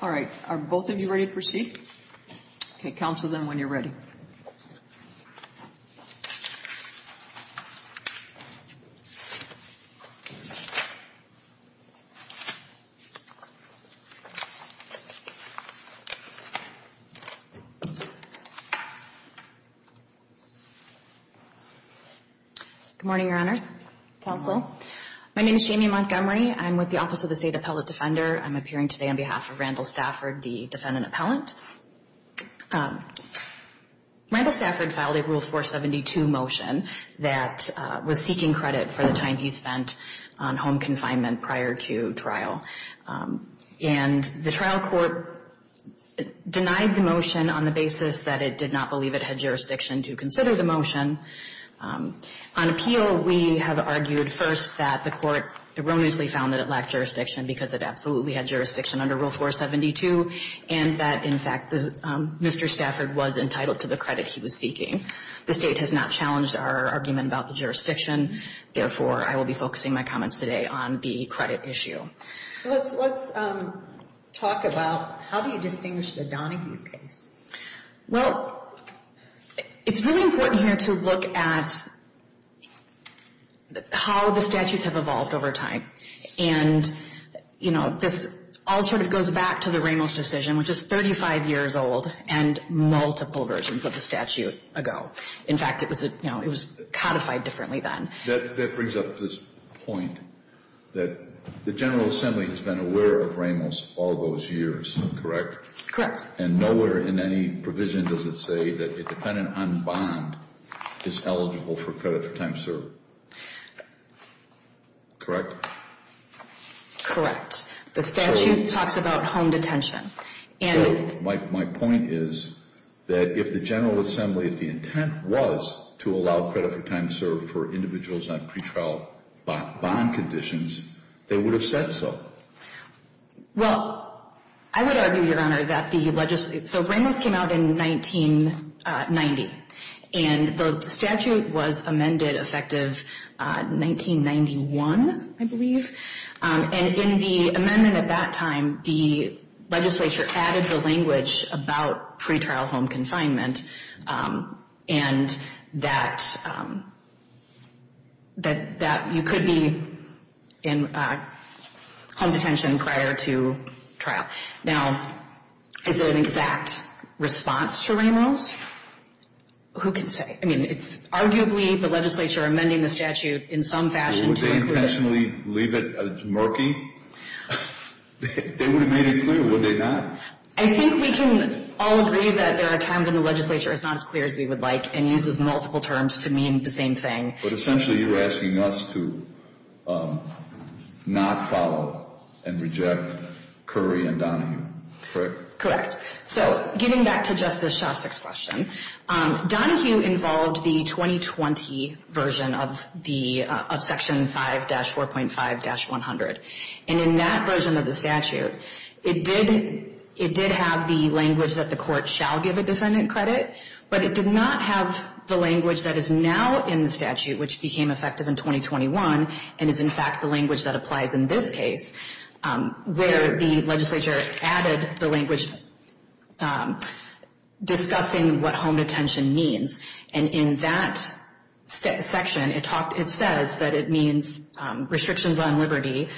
All right, are both of you ready to proceed? Okay, counsel them when you're ready. Good morning, your honors. Counsel. My name is Jamie Montgomery. I'm with the Office of the State Appellate Defender. I'm appearing today on behalf of Randall Stafford, the defendant appellant. Randall Stafford filed a Rule 472 motion that was seeking credit for the time he spent on home confinement prior to trial. And the trial court denied the motion on the basis that it did not believe it had jurisdiction to consider the motion. On appeal, we have argued first that the court erroneously found that it lacked jurisdiction because it absolutely had jurisdiction under Rule 472, and that, in fact, Mr. Stafford was entitled to the credit he was seeking. The State has not challenged our argument about the jurisdiction. Therefore, I will be focusing my comments today on the credit issue. Let's talk about how do you distinguish the Donahue case? Well, it's really important here to look at how the statutes have evolved over time. And, you know, this all sort of goes back to the Ramos decision, which is 35 years old and multiple versions of the statute ago. In fact, it was, you know, it was codified differently then. That brings up this point that the General Assembly has been aware of Ramos all those years, correct? And nowhere in any provision does it say that the defendant on bond is eligible for credit for time served. Correct? Correct. The statute talks about home detention. My point is that if the General Assembly, if the intent was to allow credit for time served for individuals on pretrial bond conditions, they would have said so. Well, I would argue, Your Honor, that the legislation, so Ramos came out in 1990, and the statute was amended effective 1991, I believe. And in the amendment at that time, the legislature added the language about pretrial home confinement and that you could be in home detention prior to trial. Now, is it an exact response to Ramos? Who can say? I mean, it's arguably the legislature amending the statute in some fashion to include it. I mean, if the legislature were to randomly leave it as murky, they would have made it clear, would they not? I think we can all agree that there are times when the legislature is not as clear as we would like and uses multiple terms to mean the same thing. But essentially, you're asking us to not follow and reject Curry and Donahue. Correct? Correct. So getting back to Justice Shostak's question, Donahue involved the 2020 version of the of Section 5-4.5-100. And in that version of the statute, it did it did have the language that the court shall give a defendant credit, but it did not have the language that is now in the statute, which became effective in 2021. And is, in fact, the language that applies in this case where the legislature added the language discussing what home detention means. And in that section, it talked. It says that it means restrictions on liberty,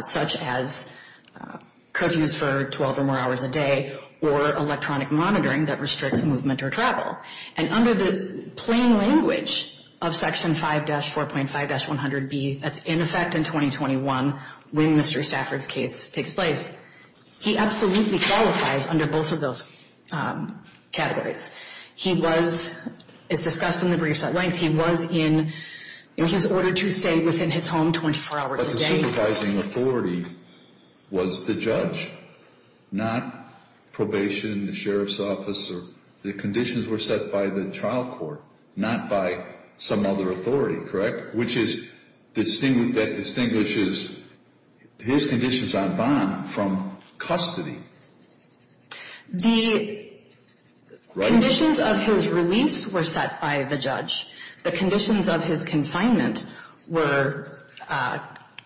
such as curfews for 12 or more hours a day or electronic monitoring that restricts movement or travel. And under the plain language of Section 5-4.5-100B, that's in effect in 2021 when Mr. Stafford's case takes place. He absolutely qualifies under both of those categories. He was as discussed in the briefs at length. He was in his order to stay within his home 24 hours a day. The only supervising authority was the judge, not probation, the sheriff's office or the conditions were set by the trial court, not by some other authority. Correct. Which is distinct that distinguishes his conditions on bond from custody. The conditions of his release were set by the judge. The conditions of his confinement were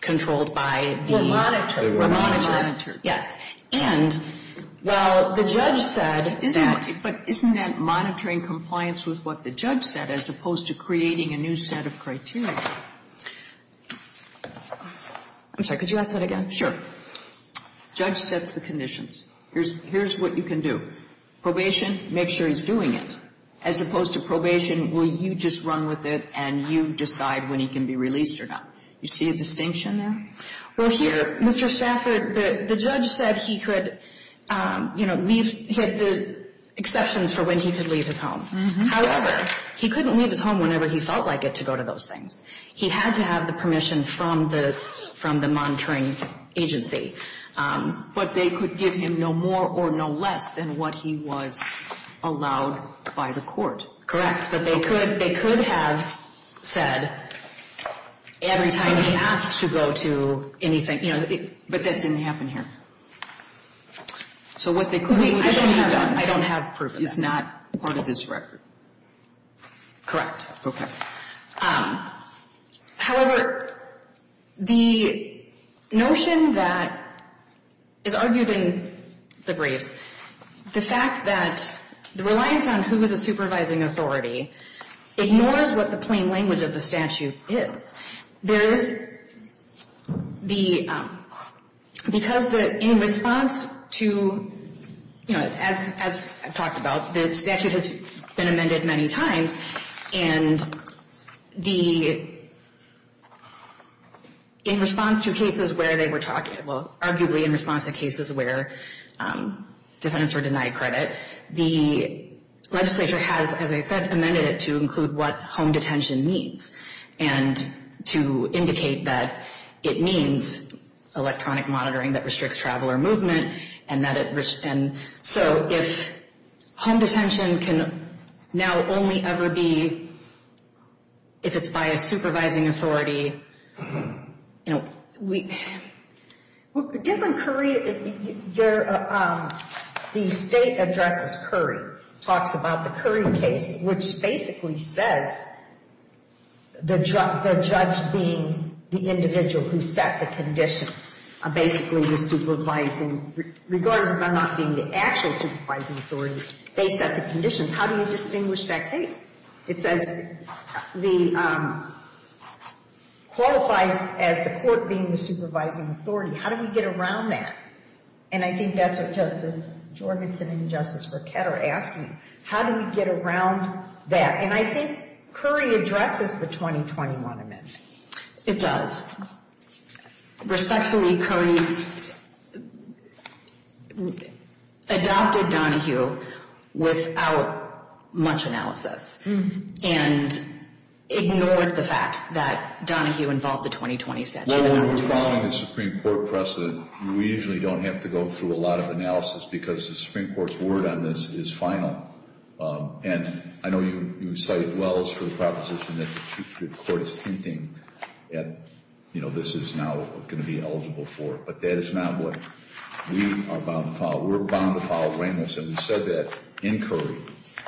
controlled by the monitor. Yes. And while the judge said that. But isn't that monitoring compliance with what the judge said as opposed to creating a new set of criteria? I'm sorry. Could you ask that again? Sure. Judge sets the conditions. Here's what you can do. Probation, make sure he's doing it. As opposed to probation, will you just run with it and you decide when he can be released or not? You see a distinction there? Well, here, Mr. Stafford, the judge said he could, you know, he had the exceptions for when he could leave his home. However, he couldn't leave his home whenever he felt like it to go to those things. He had to have the permission from the monitoring agency. But they could give him no more or no less than what he was allowed by the court. Correct. But they could have said every time he asked to go to anything. But that didn't happen here. So what they could have done. I don't have proof of that. Is not part of this record. Correct. Okay. However, the notion that is argued in the briefs, the fact that the reliance on who is a supervising authority ignores what the plain language of the statute is. There is the, because in response to, you know, as I've talked about, the statute has been amended many times. And the, in response to cases where they were talking, well, arguably in response to cases where defendants were denied credit, the legislature has, as I said, amended it to include what home detention means. And to indicate that it means electronic monitoring that restricts traveler movement. And that it, and so if home detention can now only ever be, if it's by a supervising authority, you know, we. Different, the state addresses Curry. Talks about the Curry case, which basically says the judge being the individual who set the conditions. Basically the supervising, regardless of them not being the actual supervising authority, they set the conditions. How do you distinguish that case? It says the, qualifies as the court being the supervising authority. How do we get around that? And I think that's what Justice Jorgensen and Justice Burkett are asking. How do we get around that? And I think Curry addresses the 2021 amendment. It does. Respectfully, Curry adopted Donahue without much analysis. And ignored the fact that Donahue involved the 2020 statute. When we're following the Supreme Court precedent, we usually don't have to go through a lot of analysis. Because the Supreme Court's word on this is final. And I know you cited Wells for the proposition that the court is hinting at, you know, this is now going to be eligible for. But that is not what we are bound to follow. We're bound to follow Reynolds. And we said that in Curry,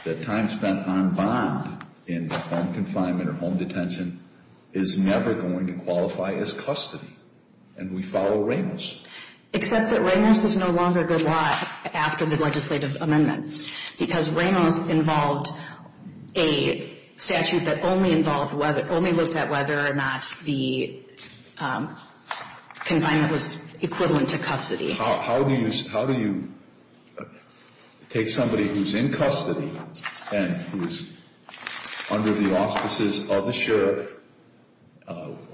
that time spent on bond in home confinement or home detention is never going to qualify as custody. And we follow Reynolds. Except that Reynolds is no longer a good law after the legislative amendments. Because Reynolds involved a statute that only involved, only looked at whether or not the confinement was equivalent to custody. How do you take somebody who's in custody and who's under the auspices of the sheriff,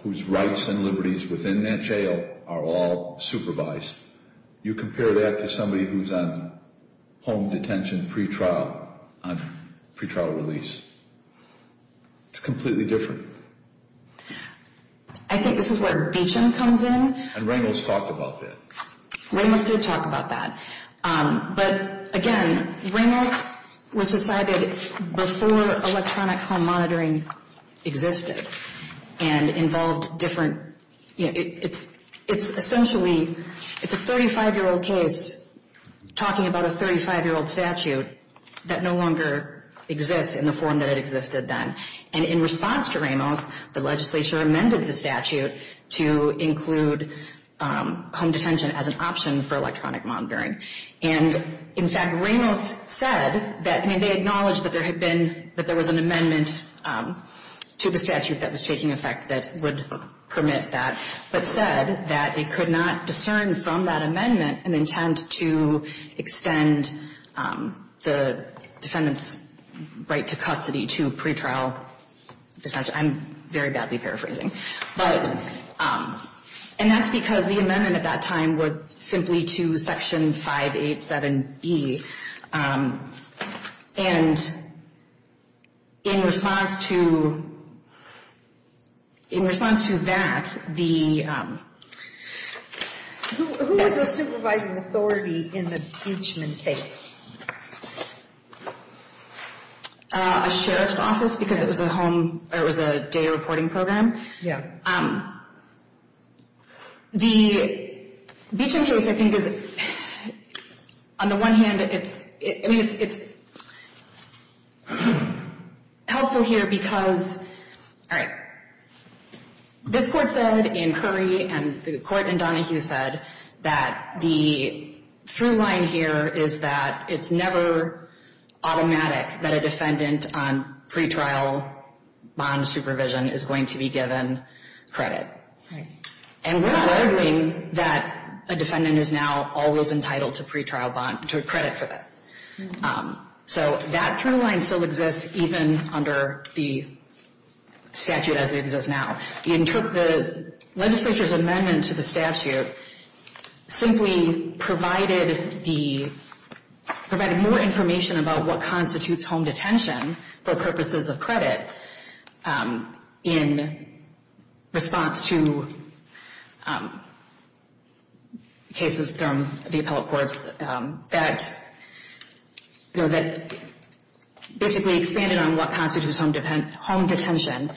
whose rights and liberties within that jail are all supervised, you compare that to somebody who's on home detention pretrial, on pretrial release? It's completely different. I think this is where Beecham comes in. And Reynolds talked about that. Reynolds did talk about that. But, again, Reynolds was decided before electronic home monitoring existed. And involved different, you know, it's essentially, it's a 35-year-old case talking about a 35-year-old statute that no longer exists in the form that it existed then. And in response to Reynolds, the legislature amended the statute to include home detention as an option for electronic monitoring. And, in fact, Reynolds said that, I mean, they acknowledged that there had been, that there was an amendment to the statute that was taking effect that would permit that. But said that it could not discern from that amendment an intent to extend the defendant's right to custody to pretrial detention. I'm very badly paraphrasing. And that's because the amendment at that time was simply to Section 587B. And in response to, in response to that, the... Who was the supervising authority in the Beecham case? A sheriff's office, because it was a home, it was a day reporting program. Yeah. The Beecham case, I think, is, on the one hand, it's, I mean, it's helpful here because, all right. This Court said in Curry and the Court in Donohue said that the through line here is that it's never automatic that a defendant on pretrial bond supervision is going to be given credit. Right. And we're not arguing that a defendant is now always entitled to pretrial bond, to credit for this. So that through line still exists even under the statute as it exists now. The legislature's amendment to the statute simply provided the, provided more information about what constitutes home detention for purposes of credit in response to cases from the appellate courts that, you know, that basically expanded on what constitutes home detention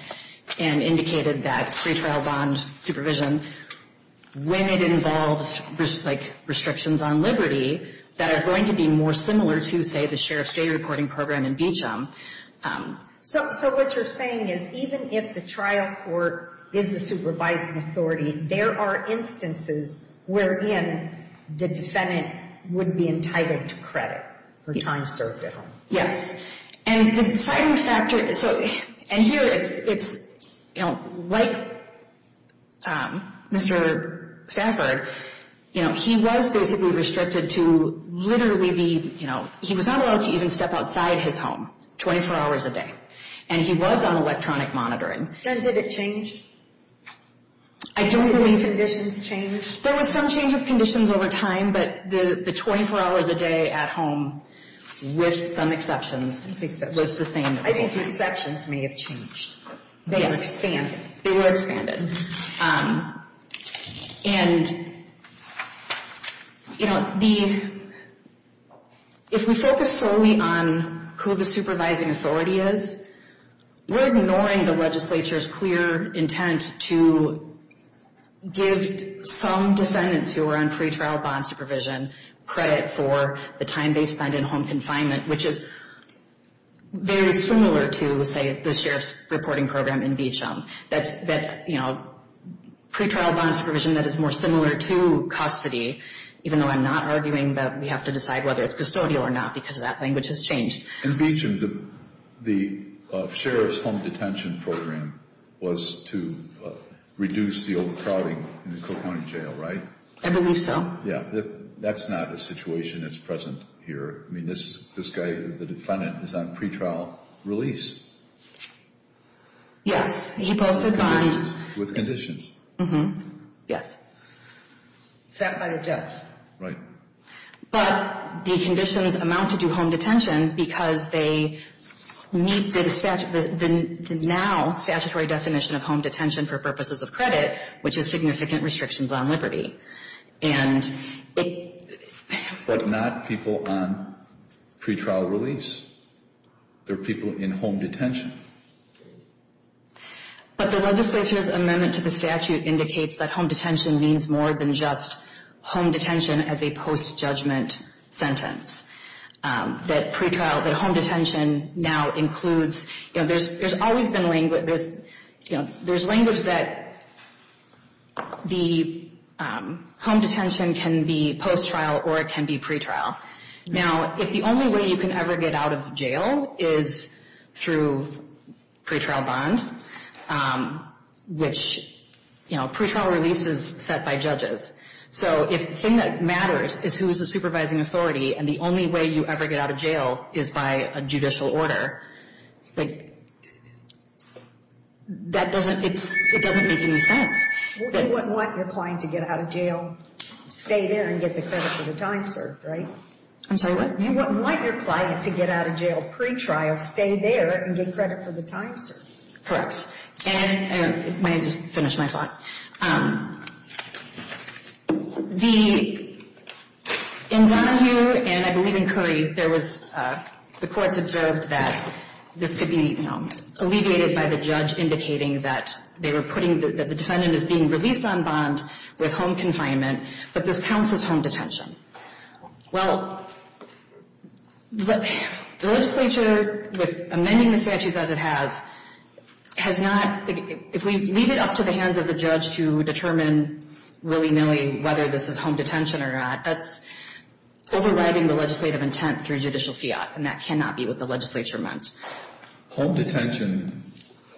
and indicated that pretrial bond supervision, when it involves, like, restrictions on liberty, that are going to be more similar to, say, the sheriff's day reporting program in Beecham. So what you're saying is even if the trial court is the supervising authority, there are instances wherein the defendant would be entitled to credit for time served at home. Yes. And the deciding factor, so, and here it's, you know, like Mr. Stafford, you know, he was basically restricted to literally the, you know, he was not allowed to even step outside his home 24 hours a day. And he was on electronic monitoring. Then did it change? I don't believe. Did the conditions change? There was some change of conditions over time, but the 24 hours a day at home, with some exceptions, was the same. I think the exceptions may have changed. Yes. They were expanded. And, you know, the, if we focus solely on who the supervising authority is, we're ignoring the legislature's clear intent to give some defendants who are on pretrial bond supervision credit for the time they spend in home confinement, which is very similar to, say, the sheriff's reporting program in Beecham. That's, you know, pretrial bond supervision that is more similar to custody, even though I'm not arguing that we have to decide whether it's custodial or not because that language has changed. In Beecham, the sheriff's home detention program was to reduce the overcrowding in the Cook County Jail, right? I believe so. Yeah. That's not a situation that's present here. I mean, this guy, the defendant, is on pretrial release. Yes. He posted bond. With conditions. Mm-hmm. Yes. Except by the judge. Right. But the conditions amount to do home detention because they meet the now statutory definition of home detention for purposes of credit, which is significant restrictions on liberty. But not people on pretrial release. They're people in home detention. But the legislature's amendment to the statute indicates that home detention means more than just home detention as a post-judgment sentence. That pretrial, that home detention now includes, you know, there's always been language, you know, there's language that the home detention can be post-trial or it can be pretrial. Now, if the only way you can ever get out of jail is through pretrial bond, which, you know, pretrial release is set by judges. So if the thing that matters is who is the supervising authority and the only way you ever get out of jail is by a judicial order, like, that doesn't, it doesn't make any sense. You wouldn't want your client to get out of jail, stay there and get the credit for the time served, right? I'm sorry, what? You wouldn't want your client to get out of jail pretrial, stay there and get credit for the time served. Correct. And if, let me just finish my thought. The, in Donahue and I believe in Curry, there was, the courts observed that this could be, you know, alleviated by the judge indicating that they were putting, that the defendant is being released on bond with home confinement, but this counts as home detention. Well, the legislature, with amending the statutes as it has, has not, if we leave it up to the hands of the judge to determine willy-nilly whether this is home detention or not, that's overriding the legislative intent through judicial fiat, and that cannot be what the legislature meant. Home detention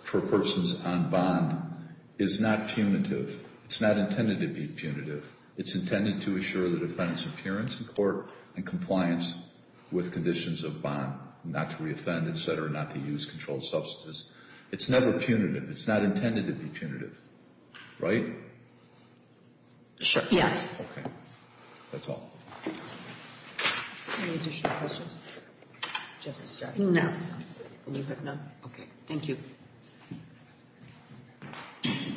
for persons on bond is not punitive. It's not intended to be punitive. It's intended to assure the defendant's appearance in court and compliance with conditions of bond, not to reoffend, et cetera, not to use controlled substances. It's never punitive. It's not intended to be punitive. Right? Sure. Yes. Okay. That's all. Any additional questions? No. Okay. Thank you. Thank you.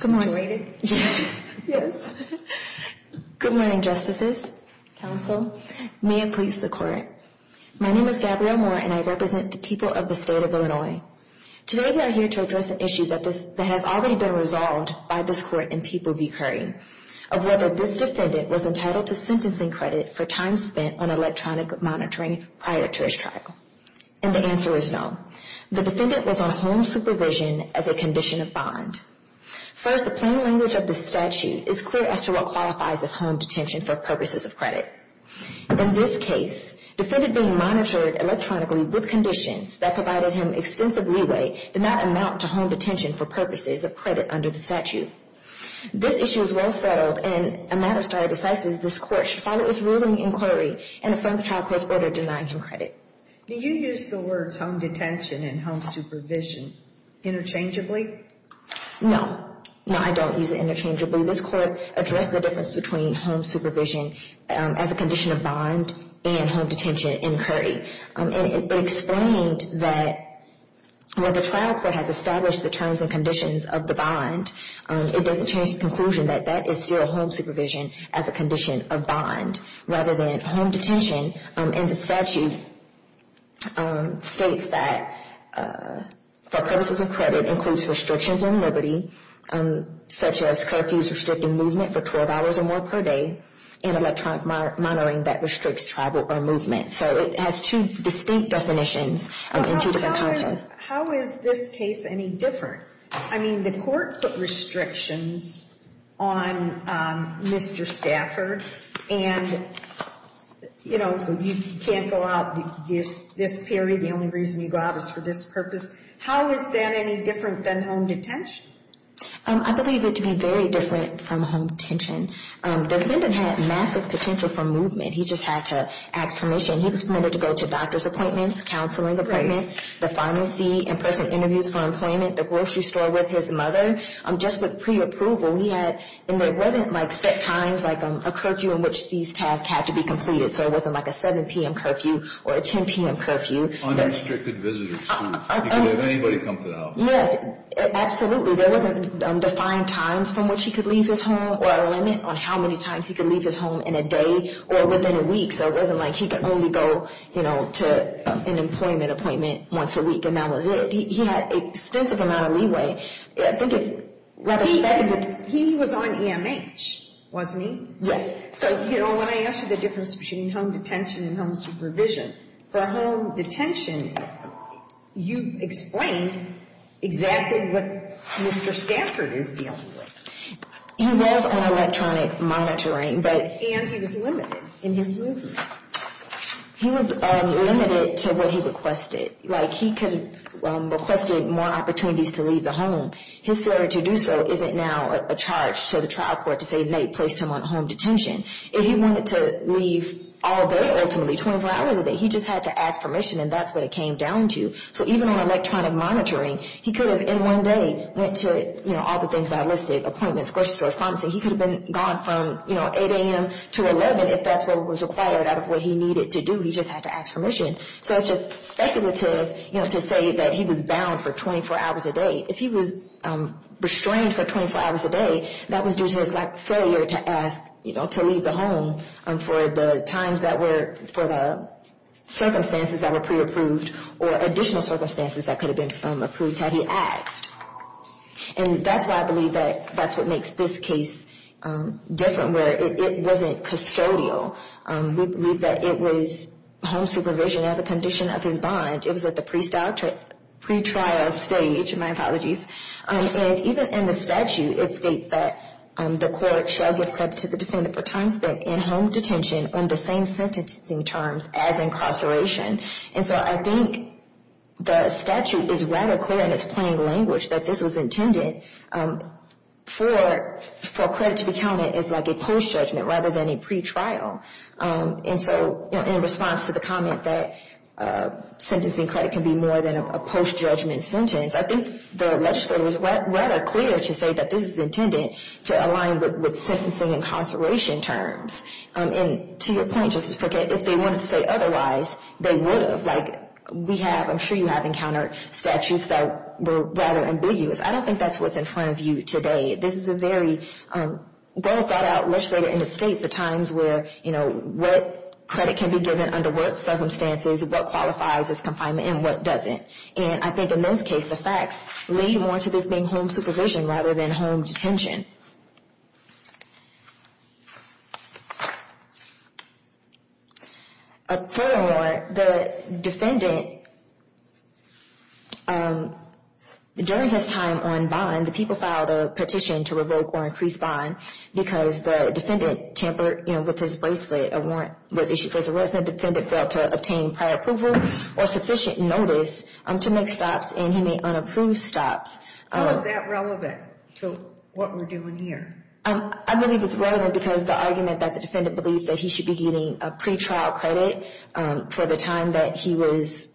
Good morning. Good morning, justices, counsel, may it please the court. My name is Gabrielle Moore, and I represent the people of the state of Illinois. Today we are here to address an issue that has already been resolved by this court in People v. Curry, of whether this defendant was entitled to sentencing credit for time spent on electronic monitoring prior to his trial. And the answer is no. The defendant was on home supervision as a condition of bond. First, the plain language of this statute is clear as to what qualifies as home detention for purposes of credit. In this case, the defendant being monitored electronically with conditions that provided him extensive leeway did not amount to home detention for purposes of credit under the statute. This issue is well-settled, and a matter of starting decisions, this court should follow its ruling inquiry and affirm the trial court's order denying him credit. Do you use the words home detention and home supervision interchangeably? No. No, I don't use it interchangeably. This court addressed the difference between home supervision as a condition of bond and home detention in Curry. It explained that when the trial court has established the terms and conditions of the bond, it doesn't change the conclusion that that is still home supervision as a condition of bond rather than home detention. And the statute states that for purposes of credit includes restrictions on liberty, such as curfews restricting movement for 12 hours or more per day, and electronic monitoring that restricts travel or movement. So it has two distinct definitions in two different contexts. How is this case any different? I mean, the court put restrictions on Mr. Stafford, and, you know, you can't go out this period. The only reason you go out is for this purpose. How is that any different than home detention? I believe it to be very different from home detention. The defendant had massive potential for movement. He just had to ask permission. He was permitted to go to doctor's appointments, counseling appointments, the pharmacy, in-person interviews for employment, the grocery store with his mother. Just with preapproval, we had, and there wasn't like set times, like a curfew in which these tasks had to be completed, so it wasn't like a 7 p.m. curfew or a 10 p.m. curfew. Unrestricted visitors, too. You could have anybody come to the house. Yes, absolutely. There wasn't defined times from which he could leave his home or a limit on how many times he could leave his home in a day or within a week, so it wasn't like he could only go, you know, to an employment appointment once a week, and that was it. He had extensive amount of leeway. I think it's rather specific. He was on EMH, wasn't he? Yes. So, you know, when I asked you the difference between home detention and home supervision, for home detention, you explained exactly what Mr. Stanford is dealing with. He was on electronic monitoring, and he was limited in his movement. He was limited to what he requested. Like he could have requested more opportunities to leave the home. His failure to do so isn't now a charge to the trial court to say they placed him on home detention. If he wanted to leave all day, ultimately, 24 hours a day, he just had to ask permission, and that's what it came down to. So even on electronic monitoring, he could have in one day went to, you know, all the things that I listed, appointments, grocery store, pharmacy. He could have gone from, you know, 8 a.m. to 11 if that's what was required out of what he needed to do. He just had to ask permission. So it's just speculative, you know, to say that he was bound for 24 hours a day. If he was restrained for 24 hours a day, that was due to his lack of failure to ask, you know, to leave the home for the times that were, for the circumstances that were pre-approved, or additional circumstances that could have been approved had he asked. And that's why I believe that that's what makes this case different, where it wasn't custodial. We believe that it was home supervision as a condition of his bond. It was at the pre-trial stage. My apologies. And even in the statute, it states that the court shall give credit to the defendant for time spent in home detention on the same sentencing terms as incarceration. And so I think the statute is rather clear in its plain language that this was intended for credit to be counted as like a post-judgment rather than a pre-trial. And so in response to the comment that sentencing credit can be more than a post-judgment sentence, I think the legislature is rather clear to say that this is intended to align with sentencing incarceration terms. And to your point, Justice Prickett, if they wanted to say otherwise, they would have. Like, we have, I'm sure you have encountered statutes that were rather ambiguous. I don't think that's what's in front of you today. This is a very well-thought-out legislature in the states, the times where, you know, what credit can be given under what circumstances, what qualifies as confinement, and what doesn't. And I think in this case, the facts lead more to this being home supervision rather than home detention. Furthermore, the defendant, during his time on bond, the people filed a petition to revoke or increase bond because the defendant tampered, you know, with his bracelet. A warrant was issued because the resident defendant failed to obtain prior approval or sufficient notice to make stops, and he made unapproved stops. How is that relevant to what we're doing here? I believe it's relevant because the argument that the defendant believes that he should be getting a pretrial credit for the time that he was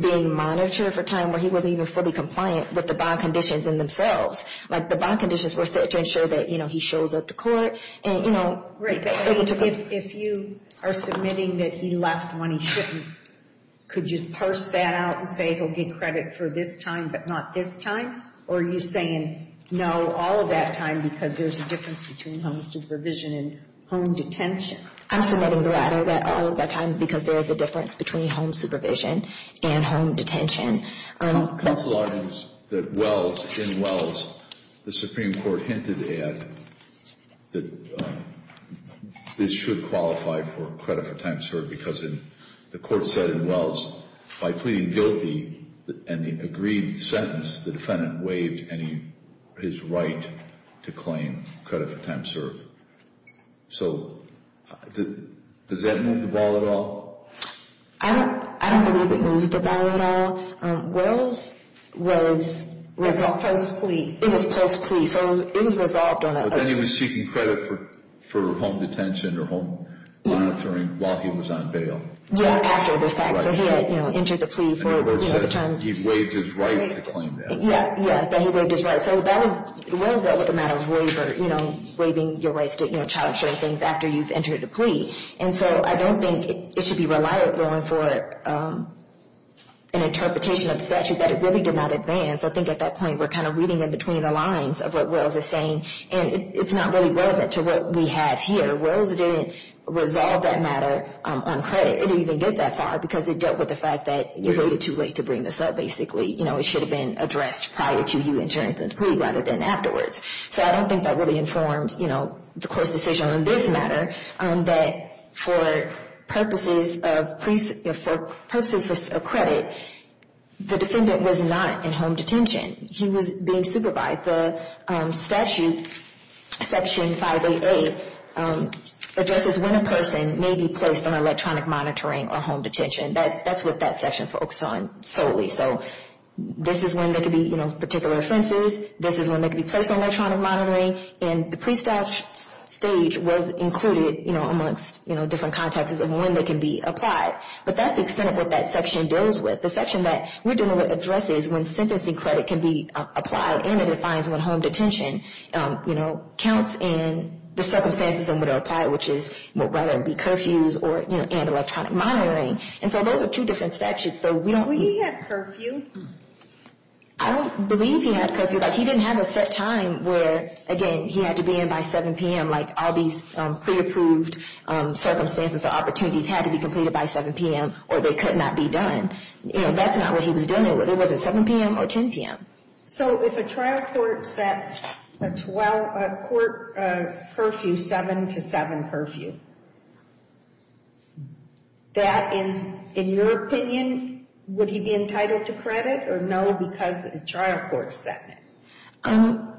being monitored for time where he wasn't even fully compliant with the bond conditions in themselves, like the bond conditions were set to ensure that, you know, he shows up to court. And, you know, if you are submitting that he left when he shouldn't, could you parse that out and say he'll get credit for this time but not this time? Or are you saying no all of that time because there's a difference between home supervision and home detention? I'm submitting the latter, that all of that time because there is a difference between home supervision and home detention. Counsel argues that Wells, in Wells, the Supreme Court hinted at that this should qualify for credit for time served because the court said in Wells, by pleading guilty and the agreed sentence, the defendant waived his right to claim credit for time served. So does that move the ball at all? I don't believe it moves the ball at all. Wells was resolved. It was post-plea. It was post-plea, so it was resolved on that. Then he was seeking credit for home detention or home monitoring while he was on bail. Yeah, after the fact. So he had, you know, entered the plea for, you know, the terms. And the court said he waived his right to claim that. Yeah, yeah, that he waived his right. So that was, Wells dealt with the matter of waiver, you know, waiving your rights to, you know, child-sharing things after you've entered a plea. And so I don't think it should be relied upon for an interpretation of statute that it really did not advance. I think at that point we're kind of reading in between the lines of what Wells is saying. And it's not really relevant to what we have here. Wells didn't resolve that matter on credit. It didn't even get that far because it dealt with the fact that you waited too late to bring this up, basically. You know, it should have been addressed prior to you entering the plea rather than afterwards. So I don't think that really informs, you know, the court's decision on this matter, that for purposes of credit, the defendant was not in home detention. He was being supervised. The statute, Section 5AA, addresses when a person may be placed on electronic monitoring or home detention. That's what that section focused on solely. So this is when there could be, you know, particular offenses. This is when they could be placed on electronic monitoring. And the prestige stage was included, you know, amongst, you know, different contexts of when they can be applied. But that's the extent of what that section deals with. The section that we're dealing with addresses when sentencing credit can be applied and it defines when home detention, you know, counts in the circumstances in which it would apply, which is whether it be curfews or, you know, and electronic monitoring. And so those are two different statutes. So we don't need to. Did he have curfew? I don't believe he had curfew. He didn't have a set time where, again, he had to be in by 7 p.m., like all these pre-approved circumstances or opportunities had to be completed by 7 p.m. or they could not be done. You know, that's not what he was dealing with. It wasn't 7 p.m. or 10 p.m. So if a trial court sets a court curfew 7 to 7 curfew, that is, in your opinion, would he be entitled to credit or no because a trial court is setting it?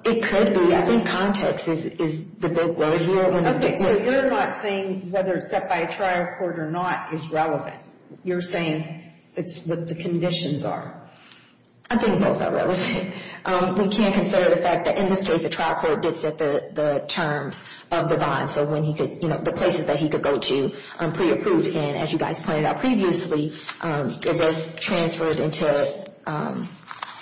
It could be. I think context is the big worry here. Okay, so you're not saying whether it's set by a trial court or not is relevant. You're saying it's what the conditions are. I think both are relevant. We can't consider the fact that in this case a trial court did set the terms of the bond, so when he could, you know, the places that he could go to pre-approved. And as you guys pointed out previously, it was transferred into the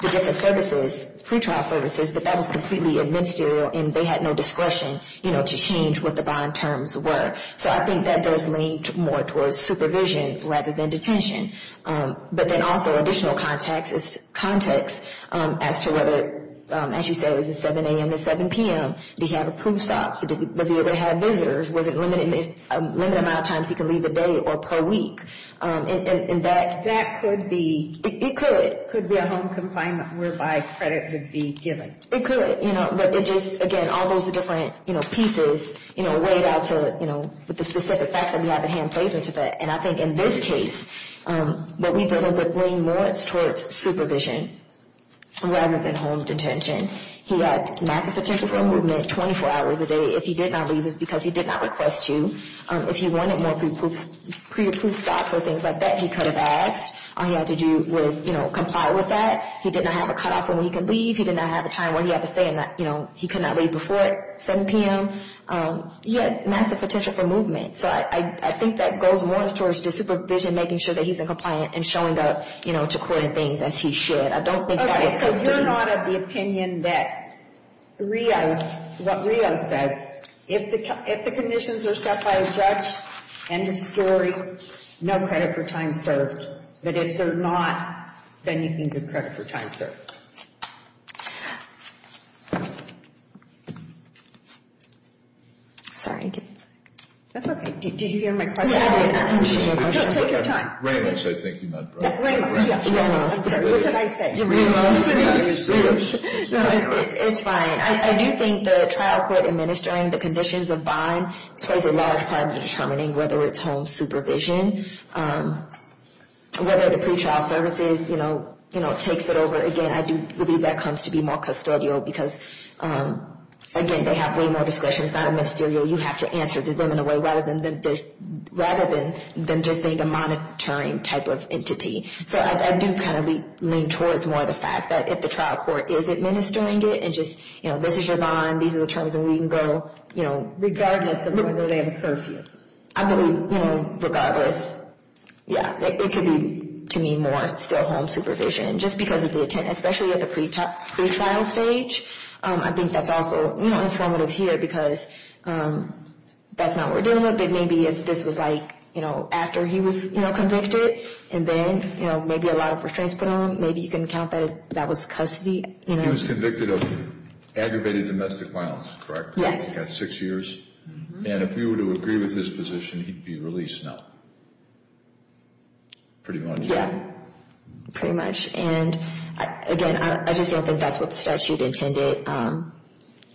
different services, pretrial services, but that was completely administerial, and they had no discretion, you know, to change what the bond terms were. So I think that does lean more towards supervision rather than detention. But then also additional context as to whether, as you said, it was 7 a.m. to 7 p.m. Did he have approved stops? Was he able to have visitors? Was it a limited amount of times he could leave a day or per week? And that could be. It could. It could be a home confinement whereby credit would be given. It could, you know, but it just, again, all those different, you know, pieces, you know, weighed out to, you know, with the specific facts that we have at hand plays into that. And I think in this case what we've dealt with leans more towards supervision rather than home detention. He had massive potential for movement, 24 hours a day. If he did not leave, it's because he did not request to. If he wanted more pre-approved stops or things like that, he could have asked. All he had to do was, you know, comply with that. He did not have a cutoff on when he could leave. He did not have a time where he had to stay and, you know, he could not leave before 7 p.m. He had massive potential for movement. So I think that goes more towards just supervision, making sure that he's in compliance and showing up, you know, to coordinate things as he should. I don't think that is consistent. We're not of the opinion that Rios, what Rios says, if the conditions are set by a judge, end of story, no credit for time served. But if they're not, then you can give credit for time served. Sorry. That's okay. Did you hear my question? No, take your time. Very much. I think you meant right. Very much, yeah. What did I say? Rios, sit down. You're serious. It's fine. I do think the trial court administering the conditions of bond plays a large part in determining whether it's home supervision, whether the pretrial services, you know, takes it over. Again, I do believe that comes to be more custodial because, again, they have way more discretion. It's not a ministerial. You have to answer to them in a way rather than just being a monitoring type of entity. So I do kind of lean towards more the fact that if the trial court is administering it and just, you know, this is your bond, these are the terms, and we can go, you know. Regardless of whether they have a curfew. I believe, you know, regardless, yeah, it could be, to me, more still home supervision, just because of the attendance, especially at the pretrial stage. I think that's also, you know, informative here because that's not what we're dealing with. I think maybe if this was, like, you know, after he was, you know, convicted, and then, you know, maybe a lot of restraints put on him, maybe you can count that as that was custody, you know. He was convicted of aggravated domestic violence, correct? Yes. He had six years. And if you were to agree with his position, he'd be released now. Pretty much. Yeah, pretty much. And, again, I just don't think that's what the statute intended.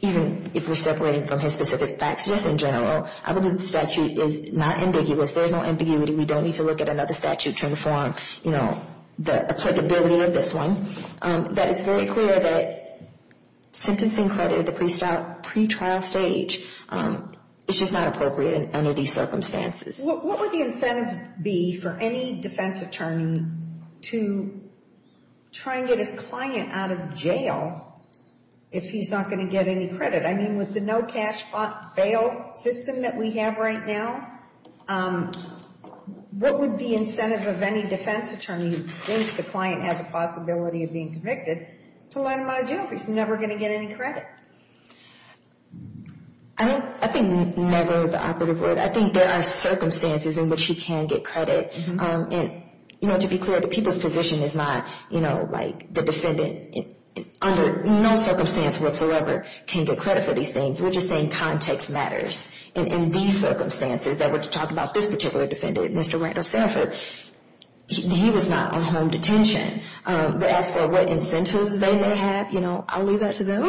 Even if we're separating from his specific facts in general, I believe the statute is not ambiguous. There's no ambiguity. We don't need to look at another statute to inform, you know, the applicability of this one. But it's very clear that sentencing credit at the pretrial stage is just not appropriate under these circumstances. What would the incentive be for any defense attorney to try and get his client out of jail if he's not going to get any credit? I mean, with the no cash bail system that we have right now, what would the incentive of any defense attorney, once the client has a possibility of being convicted, to let him out of jail if he's never going to get any credit? I think never is the operative word. I think there are circumstances in which he can get credit. And, you know, to be clear, the people's position is not, you know, like the defendant under no circumstance whatsoever can get credit for these things. We're just saying context matters. And in these circumstances that we're talking about this particular defendant, Mr. Randall Sanford, he was not on home detention. But as for what incentives they may have, you know, I'll leave that to them.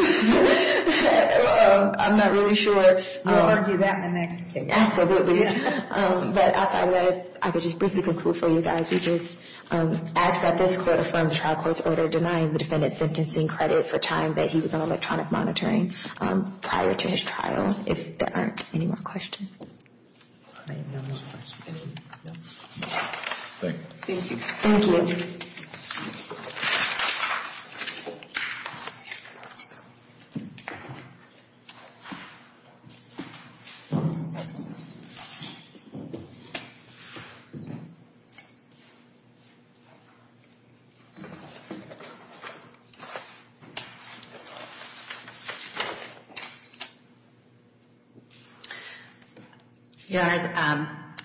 I'm not really sure. We'll argue that in the next case. But as I would, I would just briefly conclude for you guys. We just ask that this court affirm the trial court's order denying the defendant sentencing credit for time that he was on electronic monitoring prior to his trial. If there aren't any more questions. Thank you. Thank you. Thank you.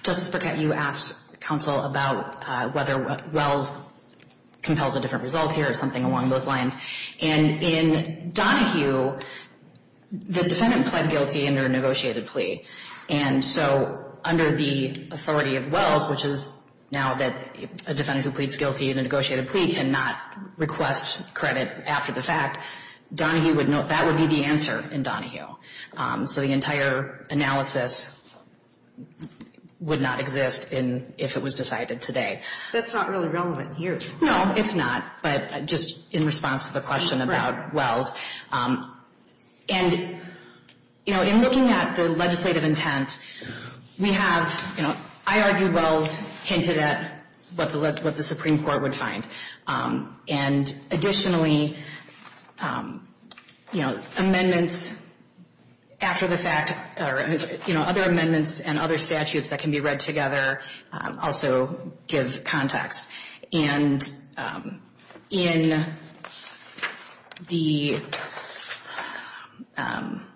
Justice Burkett, you asked counsel about whether Wells compels a different result here or something along those lines. And in Donahue, the defendant pled guilty under a negotiated plea. And so under the authority of Wells, which is now that a defendant who pleads guilty in a negotiated plea cannot request credit after the fact, Donahue would know that would be the answer in Donahue. So the entire analysis would not exist if it was decided today. That's not really relevant here. No, it's not. But just in response to the question about Wells. And, you know, in looking at the legislative intent, we have, you know, I argue Wells hinted at what the Supreme Court would find. And additionally, you know, amendments after the fact, you know, other amendments and other statutes that can be read together also give context. And in the, I'm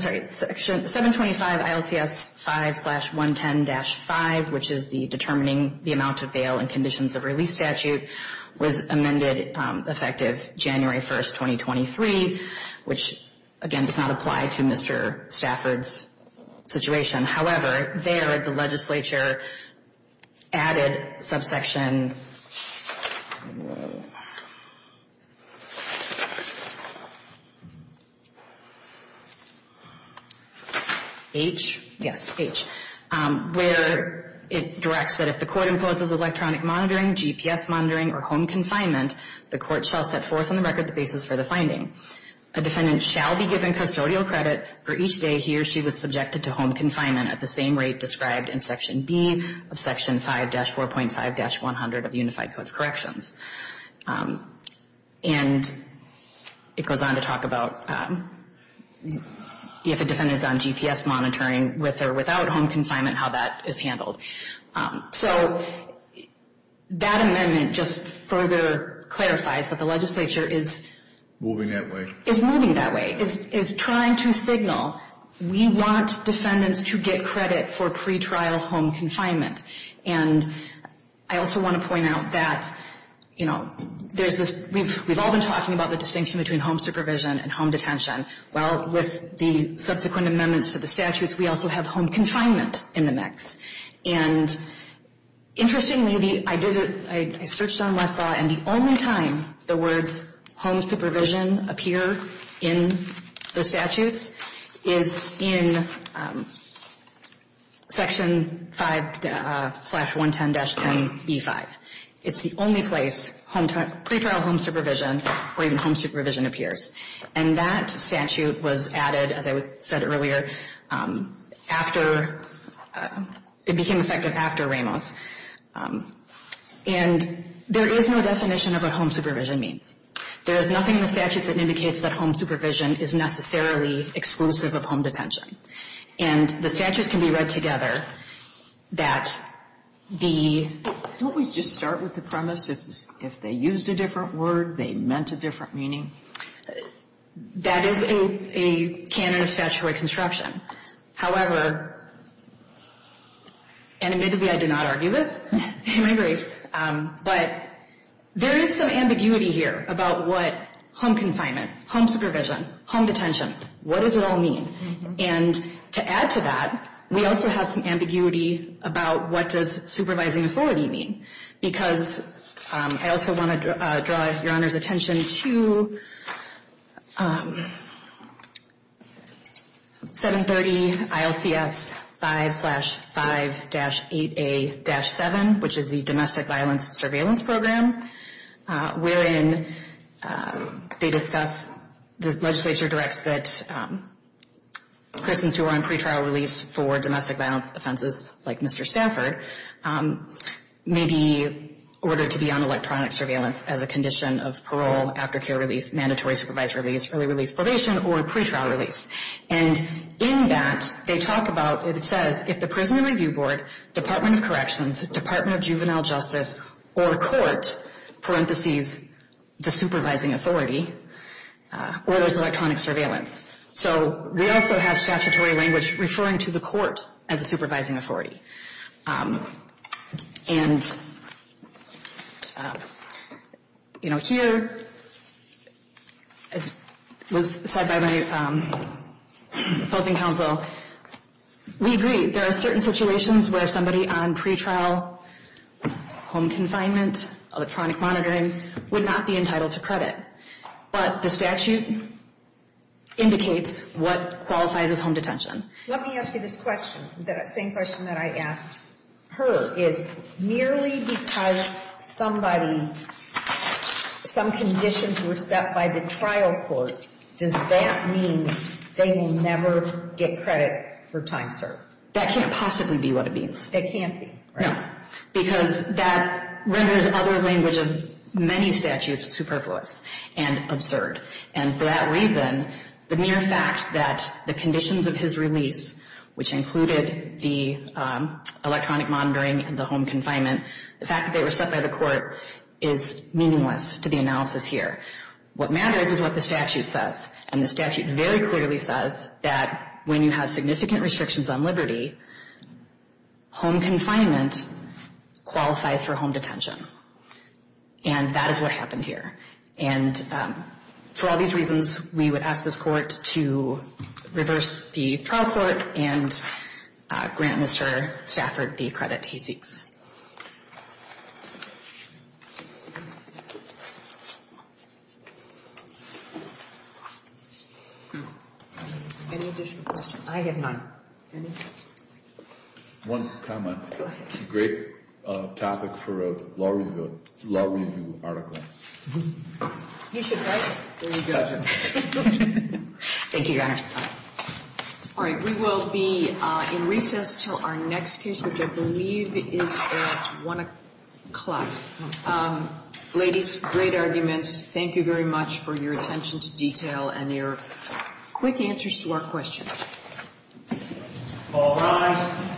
sorry, 725 ILCS 5-110-5, which is the determining the amount of bail and conditions of release statute, was amended effective January 1st, 2023, which, again, does not apply to Mr. Stafford's situation. However, there the legislature added subsection H, yes, H, where it directs that if the court imposes electronic monitoring, GPS monitoring, or home confinement, the court shall set forth on the record the basis for the finding. A defendant shall be given custodial credit for each day he or she was subjected to home confinement at the same rate described in Section B of Section 5-4.5-100 of the Unified Code of Corrections. And it goes on to talk about if a defendant is on GPS monitoring with or without home confinement, how that is handled. So that amendment just further clarifies that the legislature is moving that way, is trying to signal we want defendants to get credit for pretrial home confinement. And I also want to point out that, you know, there's this, we've all been talking about the distinction between home supervision and home detention. Well, with the subsequent amendments to the statutes, we also have home confinement in the mix. And interestingly, I did it, I searched on Westlaw, and the only time the words home supervision appear in the statutes is in Section 5-110-NE5. It's the only place pretrial home supervision or even home supervision appears. And that statute was added, as I said earlier, after, it became effective after Ramos. And there is no definition of what home supervision means. There is nothing in the statutes that indicates that home supervision is necessarily exclusive of home detention. And the statutes can be read together that the... Don't we just start with the premise if they used a different word, they meant a different meaning? That is a canon of statutory construction. However, and admittedly I did not argue this in my briefs, but there is some ambiguity here about what home confinement, home supervision, home detention, what does it all mean? And to add to that, we also have some ambiguity about what does supervising authority mean? Because I also want to draw your Honor's attention to 730-ILCS-5-5-8A-7, which is the Domestic Violence Surveillance Program. Wherein they discuss, the legislature directs that prisons who are on pretrial release for domestic violence offenses, like Mr. Stanford, may be ordered to be on electronic surveillance as a condition of parole, aftercare release, mandatory supervised release, early release, probation, or pretrial release. And in that, they talk about, it says, if the Prison Review Board, Department of Corrections, Department of Juvenile Justice, or court, parentheses, the supervising authority, orders electronic surveillance. So we also have statutory language referring to the court as a supervising authority. And, you know, here, as was said by my opposing counsel, we agree, there are certain situations where somebody on pretrial home confinement, electronic monitoring, would not be entitled to credit. But this statute indicates what qualifies as home detention. Let me ask you this question. The same question that I asked her is, merely because somebody, some conditions were set by the trial court, does that mean they will never get credit for time served? That can't possibly be what it means. It can't be, right? No. Because that renders other language of many statutes superfluous and absurd. And for that reason, the mere fact that the conditions of his release, which included the electronic monitoring and the home confinement, the fact that they were set by the court, is meaningless to the analysis here. What matters is what the statute says. And the statute very clearly says that when you have significant restrictions on liberty, home confinement qualifies for home detention. And that is what happened here. And for all these reasons, we would ask this Court to reverse the trial court and grant Mr. Stafford the credit he seeks. Any additional questions? I have none. One comment. Go ahead. It's a great topic for a law review article. You should write it. Thank you, Your Honor. All right. We will be in recess until our next case, which I believe is at 1 o'clock. Ladies, great arguments. Thank you very much for your attention to detail and your quick answers to our questions. All rise.